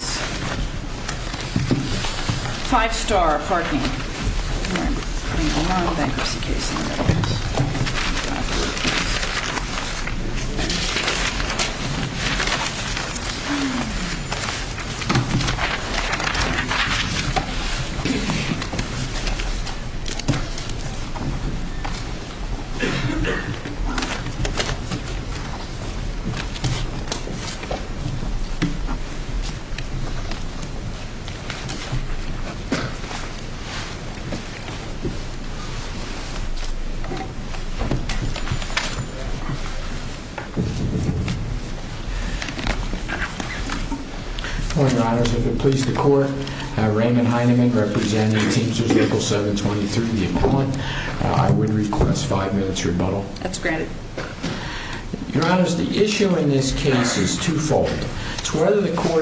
5 Star Parking Sure. The question is there a deportation or deportation from that site. And number one for the M 것 question. I need you to do the fourth one. Get this. Right? So number three. Sure. The question is whether it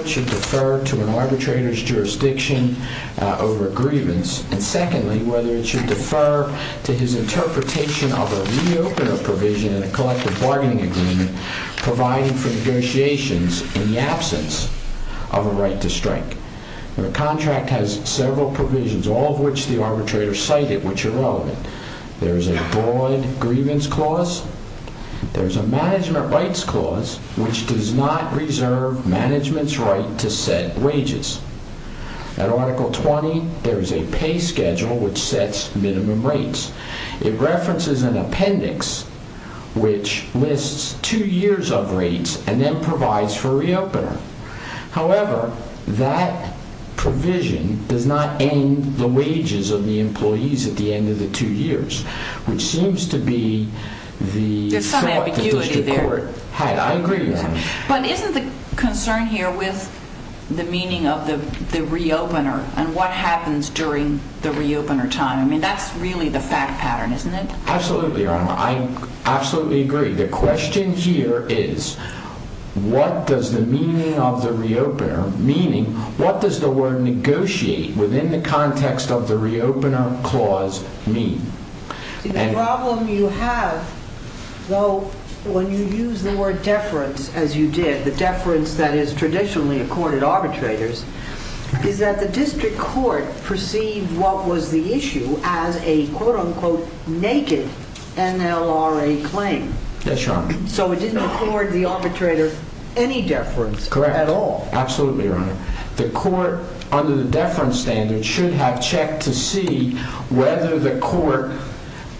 should defer to an arbitrator's jurisdiction over a grievance. And secondly, whether it should defer to his interpretation of a re-opener provision in a collective bargaining agreement providing for negotiations in the absence of a right to strike. When a contract has several provisions, all of which the arbitrator cited, which are relevant. There's a broad grievance clause. There's a management rights clause, which does not reserve management's right to set wages. At article 20, there is a pay schedule, which sets minimum rates. It references an appendix, which lists two years of rates and then provides for re-opener. However, that provision does not end the wages of the employees at the end of the two years, which seems to be the thought that the district court had. There's some ambiguity there. I agree with that. But isn't the concern here with the meaning of the re-opener and what happens during the re-opener time? I mean, that's really the fact pattern, isn't it? Absolutely, Your Honor. I absolutely agree. The question here is what does the meaning of the re-opener, meaning what does the word The problem you have, though, when you use the word deference, as you did, the deference that is traditionally accorded arbitrators, is that the district court perceived what was the issue as a quote-unquote naked NLRA claim. So it didn't accord the arbitrator any deference at all. Correct. Absolutely, Your Honor. The court, under the deference standard, should have checked to see whether the court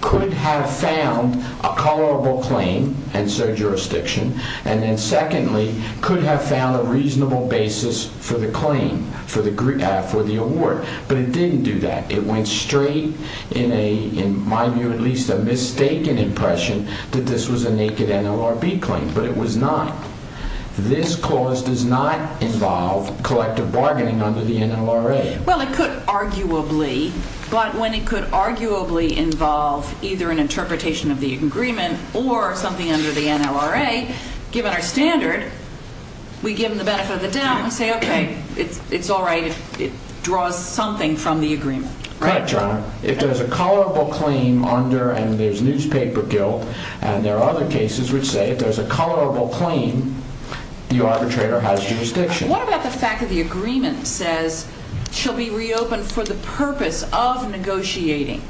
could have found a tolerable claim and so jurisdiction, and then secondly, could have found a reasonable basis for the claim, for the award. But it didn't do that. It went straight in a, in my view at least, a mistaken impression that this was a naked NLRB claim. But it was not. This clause does not involve collective bargaining under the NLRA. Well, it could arguably, but when it could arguably involve either an interpretation of the agreement or something under the NLRA, given our standard, we give them the benefit of the doubt and say, okay, it's all right if it draws something from the agreement. Correct, Your Honor. If there's a tolerable claim under, and there's newspaper guilt, and there are other cases which say if there's a tolerable claim, the arbitrator has jurisdiction. What about the fact that the agreement says, shall be reopened for the purpose of negotiating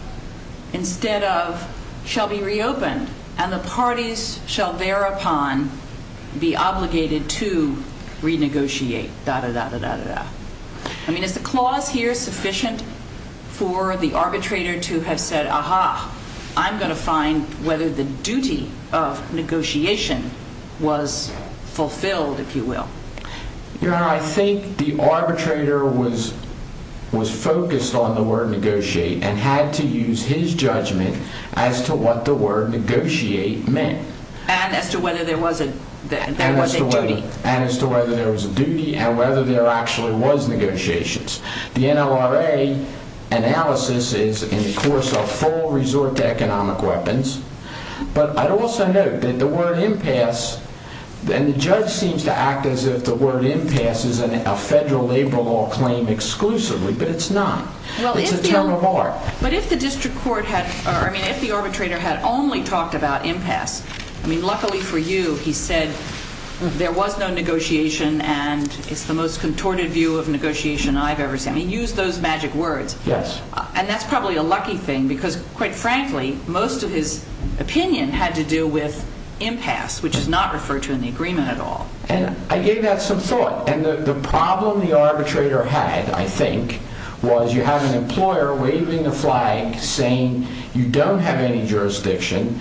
instead of shall be reopened and the parties shall thereupon be obligated to renegotiate? I mean, is the clause here sufficient for the arbitrator to have said, aha, I'm going to find whether the duty of negotiation was fulfilled, if you will? Your Honor, I think the arbitrator was, was focused on the word negotiate and had to use his judgment as to what the word negotiate meant. And as to whether there was a, there was a duty. And as to whether there was a duty and whether there actually was negotiations. The NLRA analysis is in the course of full resort to economic weapons. But I'd also note that the word impasse, and the judge seems to act as if the word impasse is a federal labor law claim exclusively, but it's not. It's a term of art. But if the district court had, I mean, if the arbitrator had only talked about impasse, I mean, luckily for you, he said there was no negotiation and it's the most contorted view of negotiation I've ever seen. He used those magic words. Yes. And that's probably a lucky thing because quite frankly, most of his opinion had to do with impasse, which is not referred to in the agreement at all. And I gave that some thought. And the problem the arbitrator had, I think, was you have an employer waving the flag saying you don't have any jurisdiction.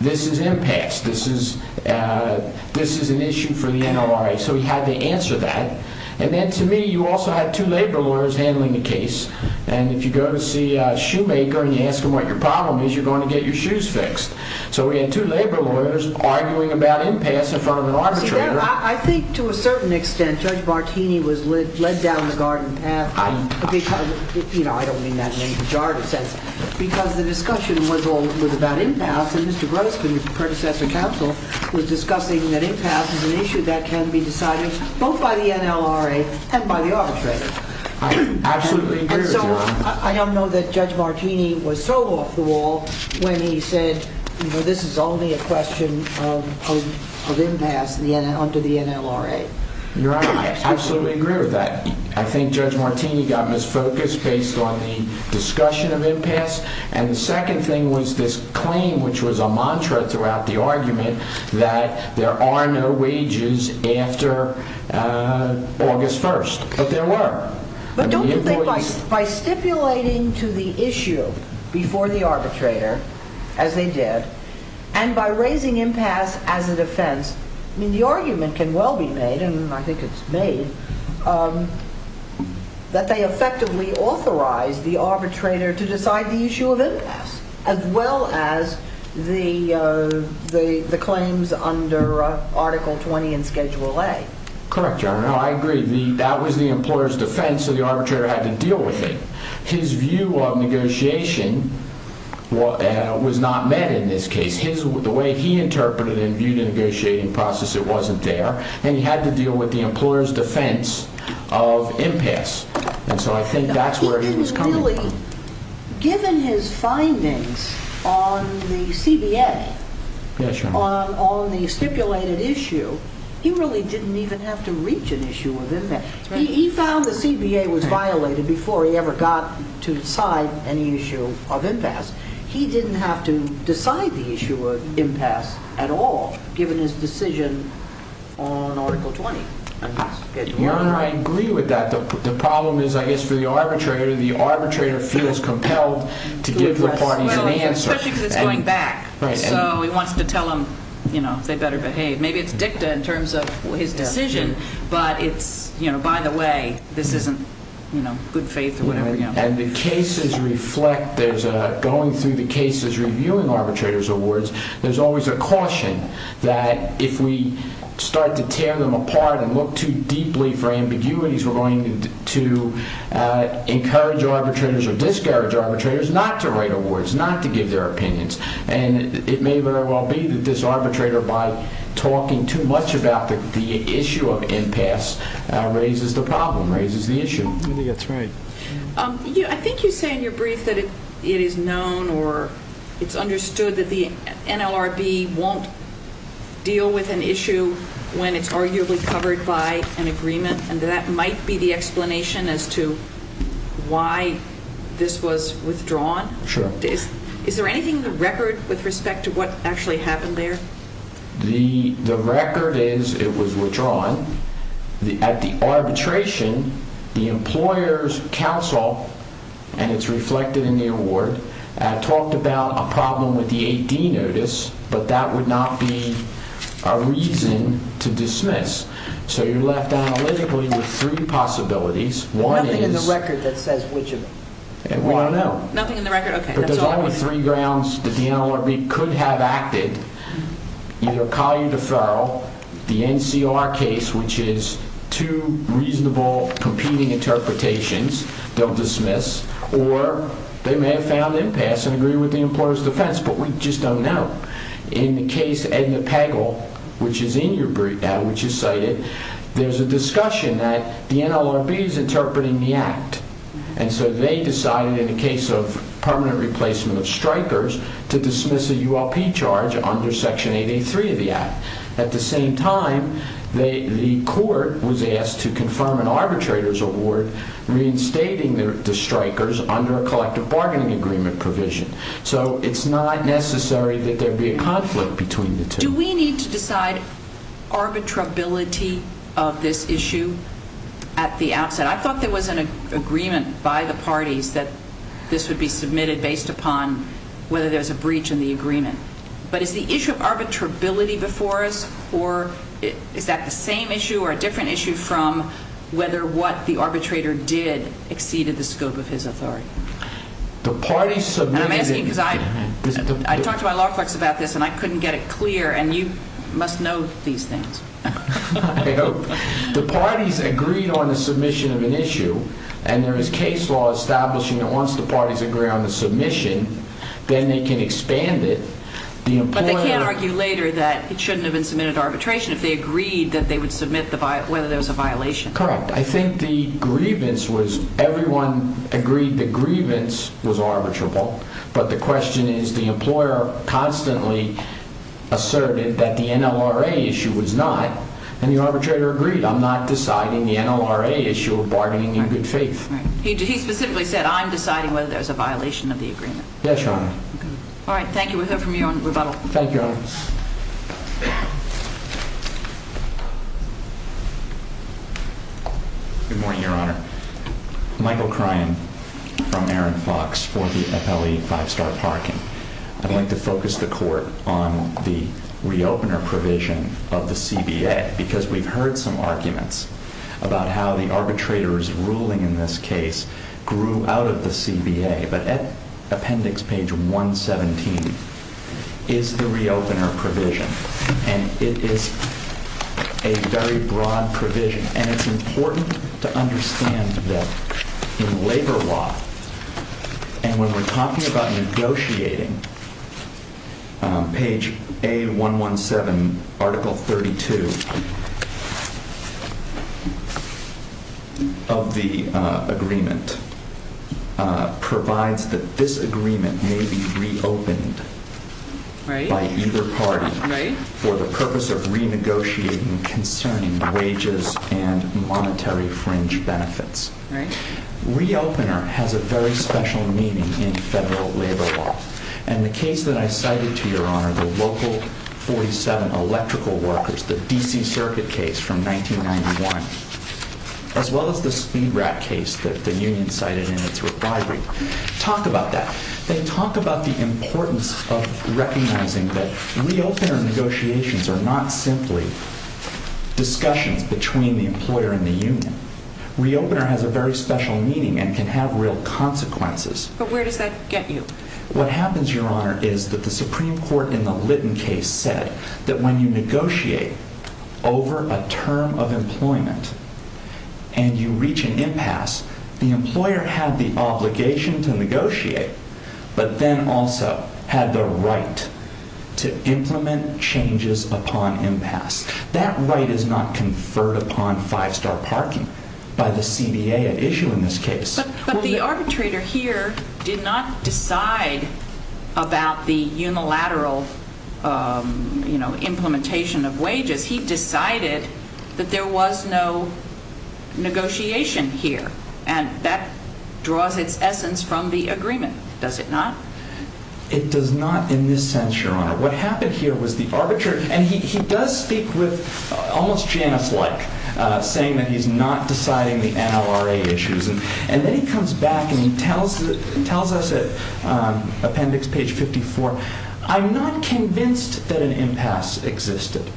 This is impasse. This is, this is an issue for the NLRA. So he had to answer that. And then to me, you also had two labor lawyers handling the case. And if you go to see a shoemaker and you ask him what your problem is, you're going to get your shoes fixed. So we had two labor lawyers arguing about impasse in front of an arbitrator. I think to a certain extent, Judge Martini was led down the garden path, you know, I don't mean that in any pejorative sense, because the discussion was all, was about impasse and Mr. Grossman, your predecessor counsel, was discussing that impasse is an issue that can be decided both by the NLRA and by the arbitrator. I absolutely agree with you on that. I don't know that Judge Martini was thrown off the wall when he said, you know, this is only a question of impasse under the NLRA. Your Honor, I absolutely agree with that. I think Judge Martini got misfocused based on the discussion of impasse. And the second thing was this claim, which was a mantra throughout the argument that there are no wages after August 1st, but there were. By stipulating to the issue before the arbitrator, as they did, and by raising impasse as a defense, I mean, the argument can well be made, and I think it's made, that they effectively authorized the arbitrator to decide the issue of impasse, as well as the claims under Article 20 and Schedule A. Correct, Your Honor. I agree. That was the employer's defense, so the arbitrator had to deal with it. His view of negotiation was not met in this case. The way he interpreted and viewed the negotiating process, it wasn't there, and he had to deal with the employer's defense of impasse. And so I think that's where he was coming from. Given his findings on the CBA, on the stipulated issue, he really didn't even have to reach an issue of impasse. He found the CBA was violated before he ever got to decide any issue of impasse. He didn't have to decide the issue of impasse at all, given his decision on Article 20 and Schedule A. Your Honor, I agree with that. The problem is, I guess, for the arbitrator, the arbitrator feels compelled to give the parties an answer. Especially because it's going back. Right. So he wants to tell them, you know, they better behave. Maybe it's dicta in terms of his decision, but it's, you know, by the way, this isn't, you know, good faith or whatever. And the cases reflect, going through the cases reviewing arbitrator's awards, there's always a caution that if we start to tear them apart and look too deeply for ambiguities, we're going to encourage arbitrators or discourage arbitrators not to write awards, not to give their opinions. And it may very well be that this arbitrator, by talking too much about the issue of impasse, raises the problem, raises the issue. I think that's right. I think you say in your brief that it is known or it's understood that the NLRB won't deal with an issue when it's arguably covered by an agreement and that that might be the explanation as to why this was withdrawn. Sure. Is there anything in the record with respect to what actually happened there? The record is it was withdrawn. At the arbitration, the employer's counsel, and it's reflected in the award, talked about a problem with the 8D notice, but that would not be a reason to dismiss. So you're left analytically with three possibilities. Nothing in the record that says which of them? We don't know. Nothing in the record? Okay. But there's only three grounds that the NLRB could have acted. Either a collier deferral, the NCR case, which is two reasonable competing interpretations, they'll dismiss, or they may have found impasse and agreed with the employer's defense, but we just don't know. In the case Edna Pagel, which is in your brief, which you cited, there's a discussion that the NLRB is interpreting the act. And so they decided in the case of permanent replacement of strikers to dismiss a ULP charge under Section 883 of the act. At the same time, the court was asked to confirm an arbitrator's award reinstating the strikers under a collective bargaining agreement provision. So it's not necessary that there be a conflict between the two. Do we need to decide arbitrability of this issue at the outset? I thought there was an agreement by the parties that this would be submitted based upon whether there's a breach in the agreement. But is the issue of arbitrability before us, or is that the same issue or a different issue from whether what the arbitrator did exceeded the scope of his authority? The parties submitted... I'm asking because I talked to my law clerks about this, and I couldn't get it clear, and you must know these things. I hope. The parties agreed on the submission of an issue, and there is case law establishing that once the parties agree on the submission, then they can expand it. But they can't argue later that it shouldn't have been submitted to arbitration if they agreed that they would submit whether there was a violation. Correct. I think the grievance was everyone agreed the grievance was arbitrable. But the question is the employer constantly asserted that the NLRA issue was not, and the arbitrator agreed. I'm not deciding the NLRA issue of bargaining in good faith. He specifically said, I'm deciding whether there's a violation of the agreement. Yes, Your Honor. All right. Thank you. Thank you, Your Honor. Good morning, Your Honor. Michael Cryan from Aaron Fox for the FLE Five Star Parking. I'd like to focus the court on the re-opener provision of the CBA because we've heard some arguments about how the arbitrator's ruling in this case grew out of the CBA. But at appendix page 117 is the re-opener provision. And it is a very broad provision. And it's important to understand that in labor law, and when we're talking about negotiating, page A117, Article 32 of the agreement provides that this agreement may be re-opened by either party. Right. For the purpose of renegotiating concerning wages and monetary fringe benefits. Right. Re-opener has a very special meaning in federal labor law. And the case that I cited to Your Honor, the Local 47 Electrical Workers, the D.C. Circuit case from 1991, as well as the Speed Rat case that the union cited in its rebuttal, talk about that. They talk about the importance of recognizing that re-opener negotiations are not simply discussions between the employer and the union. Re-opener has a very special meaning and can have real consequences. But where does that get you? What happens, Your Honor, is that the Supreme Court in the Litton case said that when you negotiate over a term of employment and you reach an impasse, the employer had the obligation to negotiate, but then also had the right to implement changes upon impasse. That right is not conferred upon five-star parking by the CBA at issue in this case. But the arbitrator here did not decide about the unilateral implementation of wages. He decided that there was no negotiation here. And that draws its essence from the agreement, does it not? It does not in this sense, Your Honor. What happened here was the arbitrator, and he does speak with almost Janus-like, saying that he's not deciding the NLRA issues. And then he comes back and he tells us at appendix page 54, I'm not convinced that an impasse existed.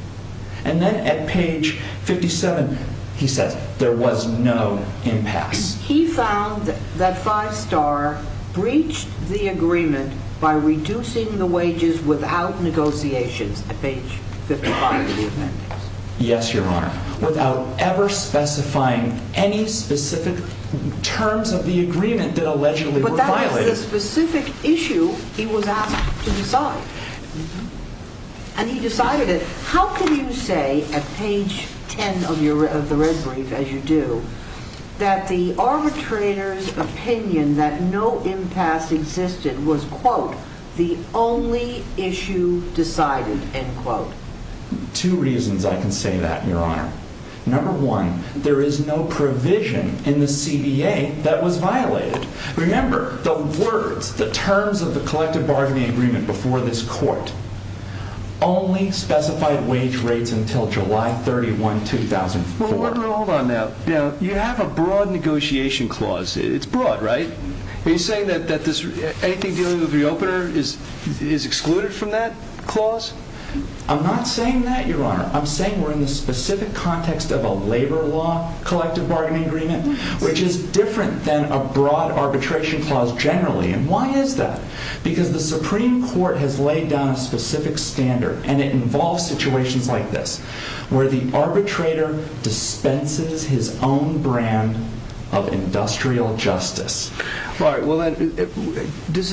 And then at page 57, he says there was no impasse. He found that five-star breached the agreement by reducing the wages without negotiations at page 55 of the agreement. Yes, Your Honor. Without ever specifying any specific terms of the agreement that allegedly were violated. But that was the specific issue he was asked to decide. And he decided it. How can you say at page 10 of the red brief, as you do, that the arbitrator's opinion that no impasse existed was, quote, the only issue decided, end quote? Two reasons I can say that, Your Honor. Number one, there is no provision in the CBA that was violated. Remember, the words, the terms of the collective bargaining agreement before this court only specified wage rates until July 31, 2004. Well, hold on now. You have a broad negotiation clause. It's broad, right? Are you saying that anything dealing with the opener is excluded from that clause? I'm not saying that, Your Honor. I'm saying we're in the specific context of a labor law collective bargaining agreement, which is different than a broad arbitration clause generally. And why is that? Because the Supreme Court has laid down a specific standard. And it involves situations like this, where the arbitrator dispenses his own brand of industrial justice. All right. What's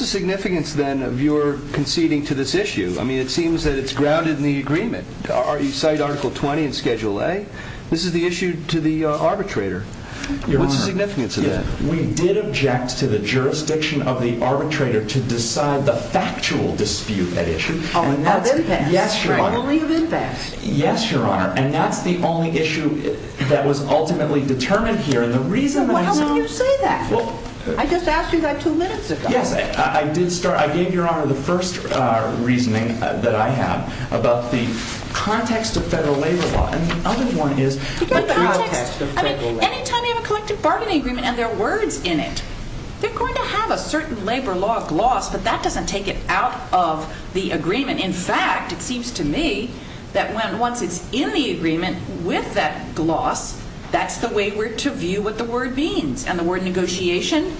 the significance, then, of your conceding to this issue? I mean, it seems that it's grounded in the agreement. You cite Article 20 in Schedule A. This is the issue to the arbitrator. Your Honor. What's the significance of that? We did object to the jurisdiction of the arbitrator to decide the factual dispute at issue. Of impasse. Yes, Your Honor. Probably of impasse. Yes, Your Honor. And that's the only issue that was ultimately determined here. And the reason that's not – Well, how can you say that? I just asked you that two minutes ago. Yes, I did start – I gave Your Honor the first reasoning that I have about the context of federal labor law. And the other one is the context of federal labor law. I mean, anytime you have a collective bargaining agreement and there are words in it, they're going to have a certain labor law gloss, but that doesn't take it out of the agreement. In fact, it seems to me that once it's in the agreement with that gloss, that's the way we're to view what the word means. And the word negotiation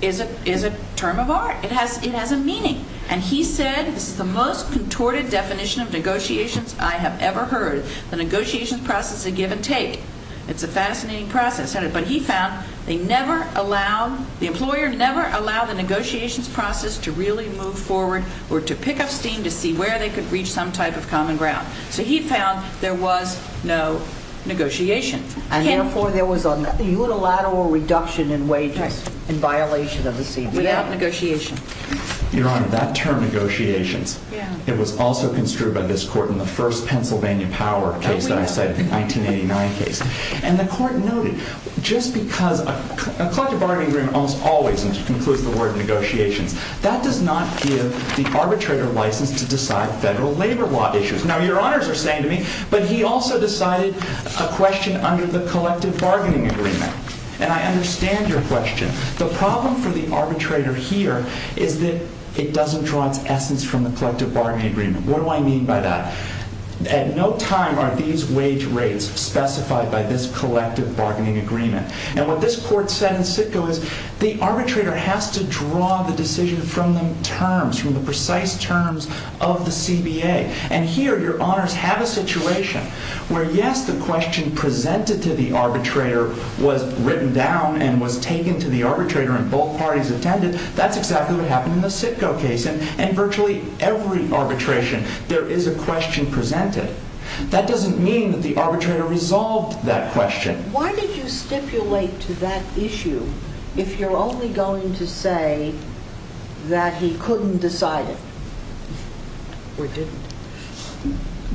is a term of art. It has a meaning. And he said, this is the most contorted definition of negotiations I have ever heard. The negotiations process is a give and take. It's a fascinating process. But he found they never allowed – the employer never allowed the negotiations process to really move forward or to pick up steam to see where they could reach some type of common ground. So he found there was no negotiation. And therefore, there was a unilateral reduction in wages in violation of the CBO. Without negotiation. Your Honor, that term negotiations, it was also construed by this court in the first Pennsylvania Power case that I cited, the 1989 case. And the court noted, just because a collective bargaining agreement almost always includes the word negotiations, that does not give the arbitrator license to decide federal labor law issues. Now, Your Honors are saying to me, but he also decided a question under the collective bargaining agreement. And I understand your question. The problem for the arbitrator here is that it doesn't draw its essence from the collective bargaining agreement. What do I mean by that? At no time are these wage rates specified by this collective bargaining agreement. And what this court said in Sitko is, the arbitrator has to draw the decision from the terms, from the precise terms of the CBA. And here, Your Honors have a situation where, yes, the question presented to the arbitrator was written down and was taken to the arbitrator and both parties attended. That's exactly what happened in the Sitko case. And virtually every arbitration, there is a question presented. That doesn't mean that the arbitrator resolved that question. Why did you stipulate to that issue, if you're only going to say that he couldn't decide it? We didn't.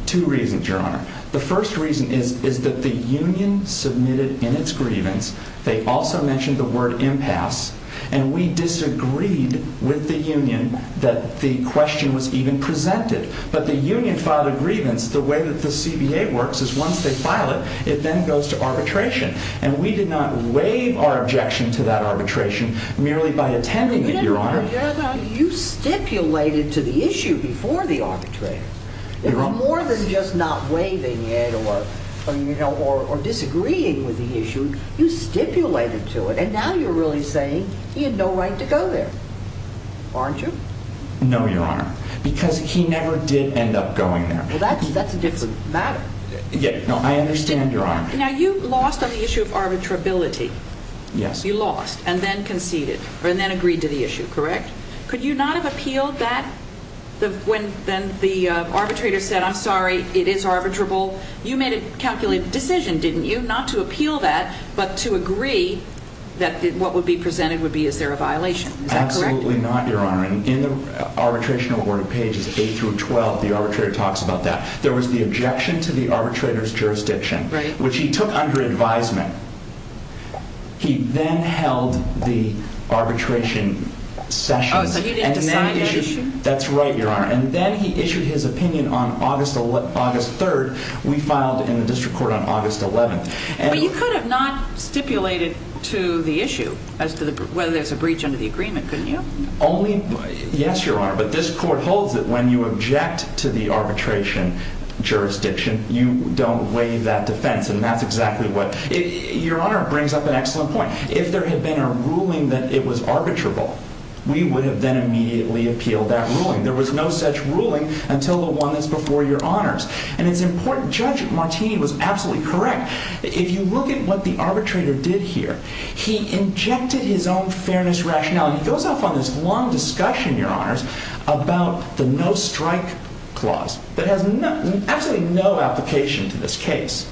Two reasons, Your Honor. The first reason is that the union submitted in its grievance. They also mentioned the word impasse. And we disagreed with the union that the question was even presented. But the union filed a grievance the way that the CBA works is once they file it, it then goes to arbitration. And we did not waive our objection to that arbitration merely by attending it, Your Honor. But Your Honor, you stipulated to the issue before the arbitrator. It was more than just not waiving it or disagreeing with the issue. You stipulated to it. And now you're really saying he had no right to go there, aren't you? No, Your Honor. Because he never did end up going there. Well, that's a different matter. No, I understand, Your Honor. Now, you lost on the issue of arbitrability. Yes. You lost and then conceded and then agreed to the issue, correct? Could you not have appealed that when the arbitrator said, I'm sorry, it is arbitrable? You made a calculated decision, didn't you, not to appeal that, but to agree that what would be presented would be, is there a violation? Is that correct? Absolutely not, Your Honor. In the arbitration awarded pages 8 through 12, the arbitrator talks about that. There was the objection to the arbitrator's jurisdiction, which he took under advisement. He then held the arbitration sessions. Oh, so he didn't decide the issue? That's right, Your Honor. And then he issued his opinion on August 3rd. We filed in the district court on August 11th. But you could have not stipulated to the issue as to whether there's a breach under the agreement, couldn't you? Only, yes, Your Honor. But this court holds that when you object to the arbitration jurisdiction, you don't waive that defense. And that's exactly what, Your Honor brings up an excellent point. If there had been a ruling that it was arbitrable, we would have then immediately appealed that ruling. There was no such ruling until the one that's before Your Honors. And it's important, Judge Martini was absolutely correct. If you look at what the arbitrator did here, he injected his own fairness rationale. He goes off on this long discussion, Your Honors, about the no-strike clause that has absolutely no application to this case.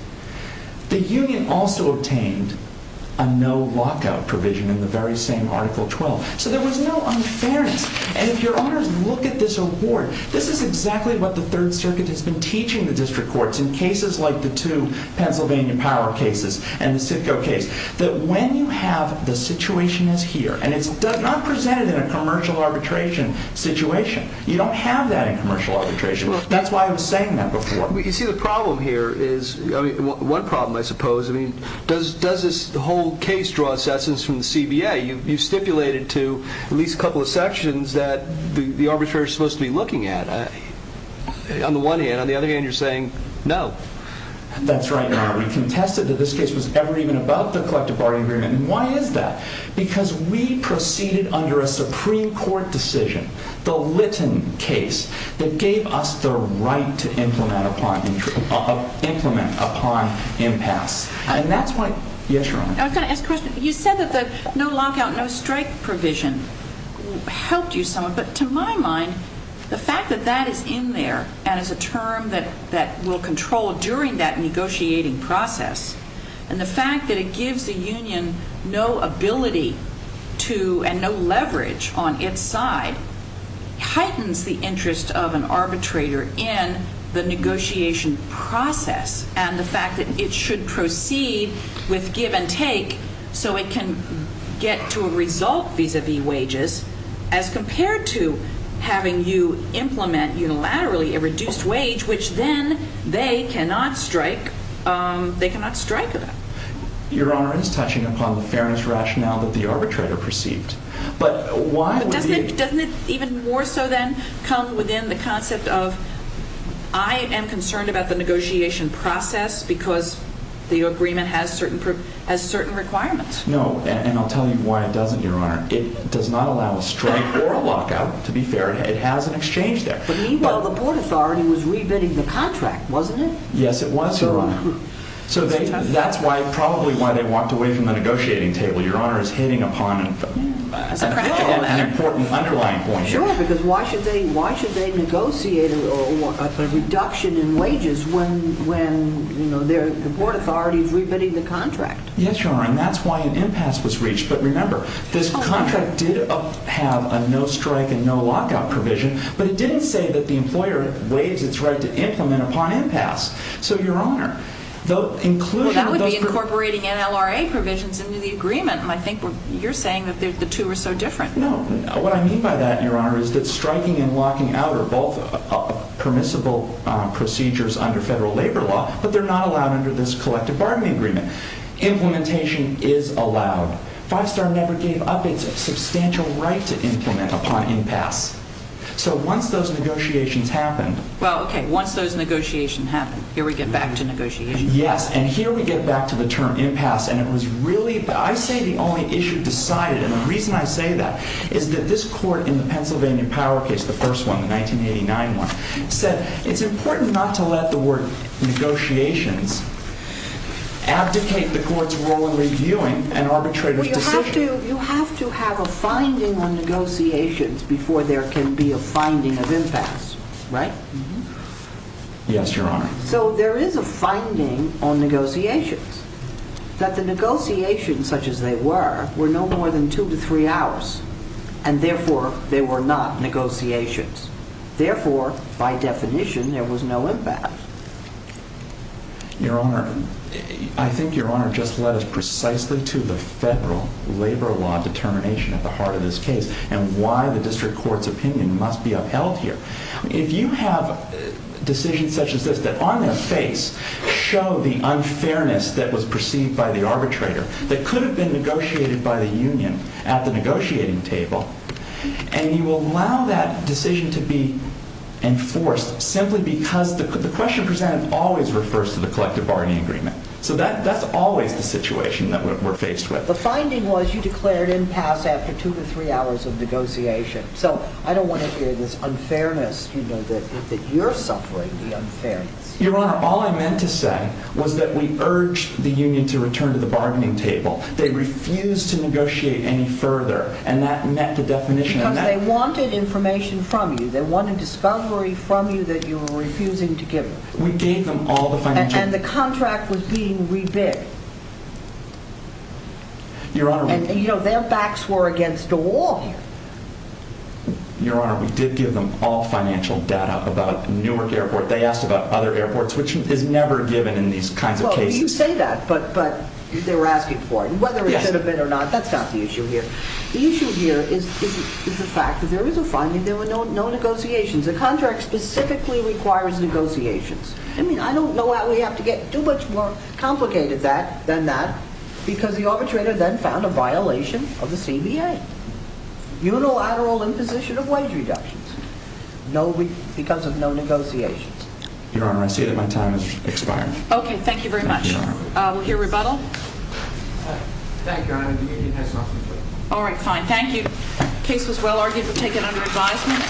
The union also obtained a no-lockout provision in the very same Article 12. So there was no unfairness. And if Your Honors look at this award, this is exactly what the Third Circuit has been teaching the district courts in cases like the two Pennsylvania power cases and the Sitko case. That when you have the situation is here, and it's not presented in a commercial arbitration situation. You don't have that in commercial arbitration. That's why I was saying that before. You see, the problem here is, one problem, I suppose, I mean, does this whole case draw assessments from the CBA? You stipulated to at least a couple of sections that the arbitrator is supposed to be looking at. On the one hand. On the other hand, you're saying, no. That's right, Your Honor. We contested that this case was ever even about the collective bargaining agreement. And why is that? Because we proceeded under a Supreme Court decision, the Litton case, that gave us the right to implement upon impasse. And that's why. Yes, Your Honor. I was going to ask a question. You said that the no-lockout, no-strike provision helped you somewhat. But to my mind, the fact that that is in there and is a term that will control during that negotiating process, and the fact that it gives the union no ability to and no leverage on its side, heightens the interest of an arbitrator in the negotiation process and the fact that it should proceed with give and take so it can get to a result vis-a-vis wages as compared to having you implement unilaterally a reduced wage, which then they cannot strike. They cannot strike at it. Your Honor, it is touching upon the fairness rationale that the arbitrator perceived. But why would you... Doesn't it even more so then come within the concept of I am concerned about the negotiation process because the agreement has certain requirements? No, and I'll tell you why it doesn't, Your Honor. It does not allow a strike or a lockout, to be fair. It has an exchange there. But meanwhile, the board authority was re-bidding the contract, wasn't it? Yes, it was, Your Honor. So that's probably why they walked away from the negotiating table. Your Honor is hitting upon an important underlying point. Sure, because why should they negotiate a reduction in wages when the board authority is re-bidding the contract? Yes, Your Honor, and that's why an impasse was reached. But remember, this contract did have a no strike and no lockout provision, but it didn't say that the employer waived its right to implement upon impasse. So, Your Honor... Well, that would be incorporating NLRA provisions into the agreement, and I think you're saying that the two are so different. No, what I mean by that, Your Honor, is that striking and locking out are both permissible procedures under federal labor law, but they're not allowed under this collective bargaining agreement. Implementation is allowed. Five Star never gave up its substantial right to implement upon impasse. So once those negotiations happened... Well, okay, once those negotiations happened, here we get back to negotiations. Yes, and here we get back to the term impasse, and it was really... I say the only issue decided, and the reason I say that is that this court in the Pennsylvania Power case, the first one, the 1989 one, said it's important not to let the word negotiations abdicate the court's role in reviewing an arbitrator's decision. Well, you have to have a finding on negotiations before there can be a finding of impasse, right? Yes, Your Honor. So there is a finding on negotiations, that the negotiations, such as they were, were no more than two to three hours, and therefore, they were not negotiations. Therefore, by definition, there was no impasse. Your Honor, I think Your Honor just led us precisely to the federal labor law determination at the heart of this case and why the district court's opinion must be upheld here. If you have decisions such as this that on their face show the unfairness that was perceived by the arbitrator that could have been negotiated by the union at the negotiating table, and you will allow that decision to be enforced simply because the question presented always refers to the collective bargaining agreement. So that's always the situation that we're faced with. The finding was you declared impasse after two to three hours of negotiation. So I don't want to hear this unfairness, that you're suffering the unfairness. Your Honor, all I meant to say was that we urged the union to return to the bargaining table. They refused to negotiate any further, and that met the definition of impasse. Because they wanted information from you. They wanted discovery from you that you were refusing to give them. We gave them all the financial... And the contract was being re-bid. Your Honor, we... Their backs were against the wall here. Your Honor, we did give them all financial data about Newark Airport. They asked about other airports, which is never given in these kinds of cases. Well, you say that, but they were asking for it. Whether it should have been or not, that's not the issue here. The issue here is the fact that there is a finding. There were no negotiations. The contract specifically requires negotiations. I mean, I don't know how we have to get too much more complicated than that, because the arbitrator then found a violation of the CBA. Unilateral imposition of wage reductions. Because of no negotiations. Your Honor, I see that my time has expired. Okay, thank you very much. We'll hear rebuttal. Thank you, Your Honor. All right, fine. Thank you. The case was well argued. We'll take it under advisement.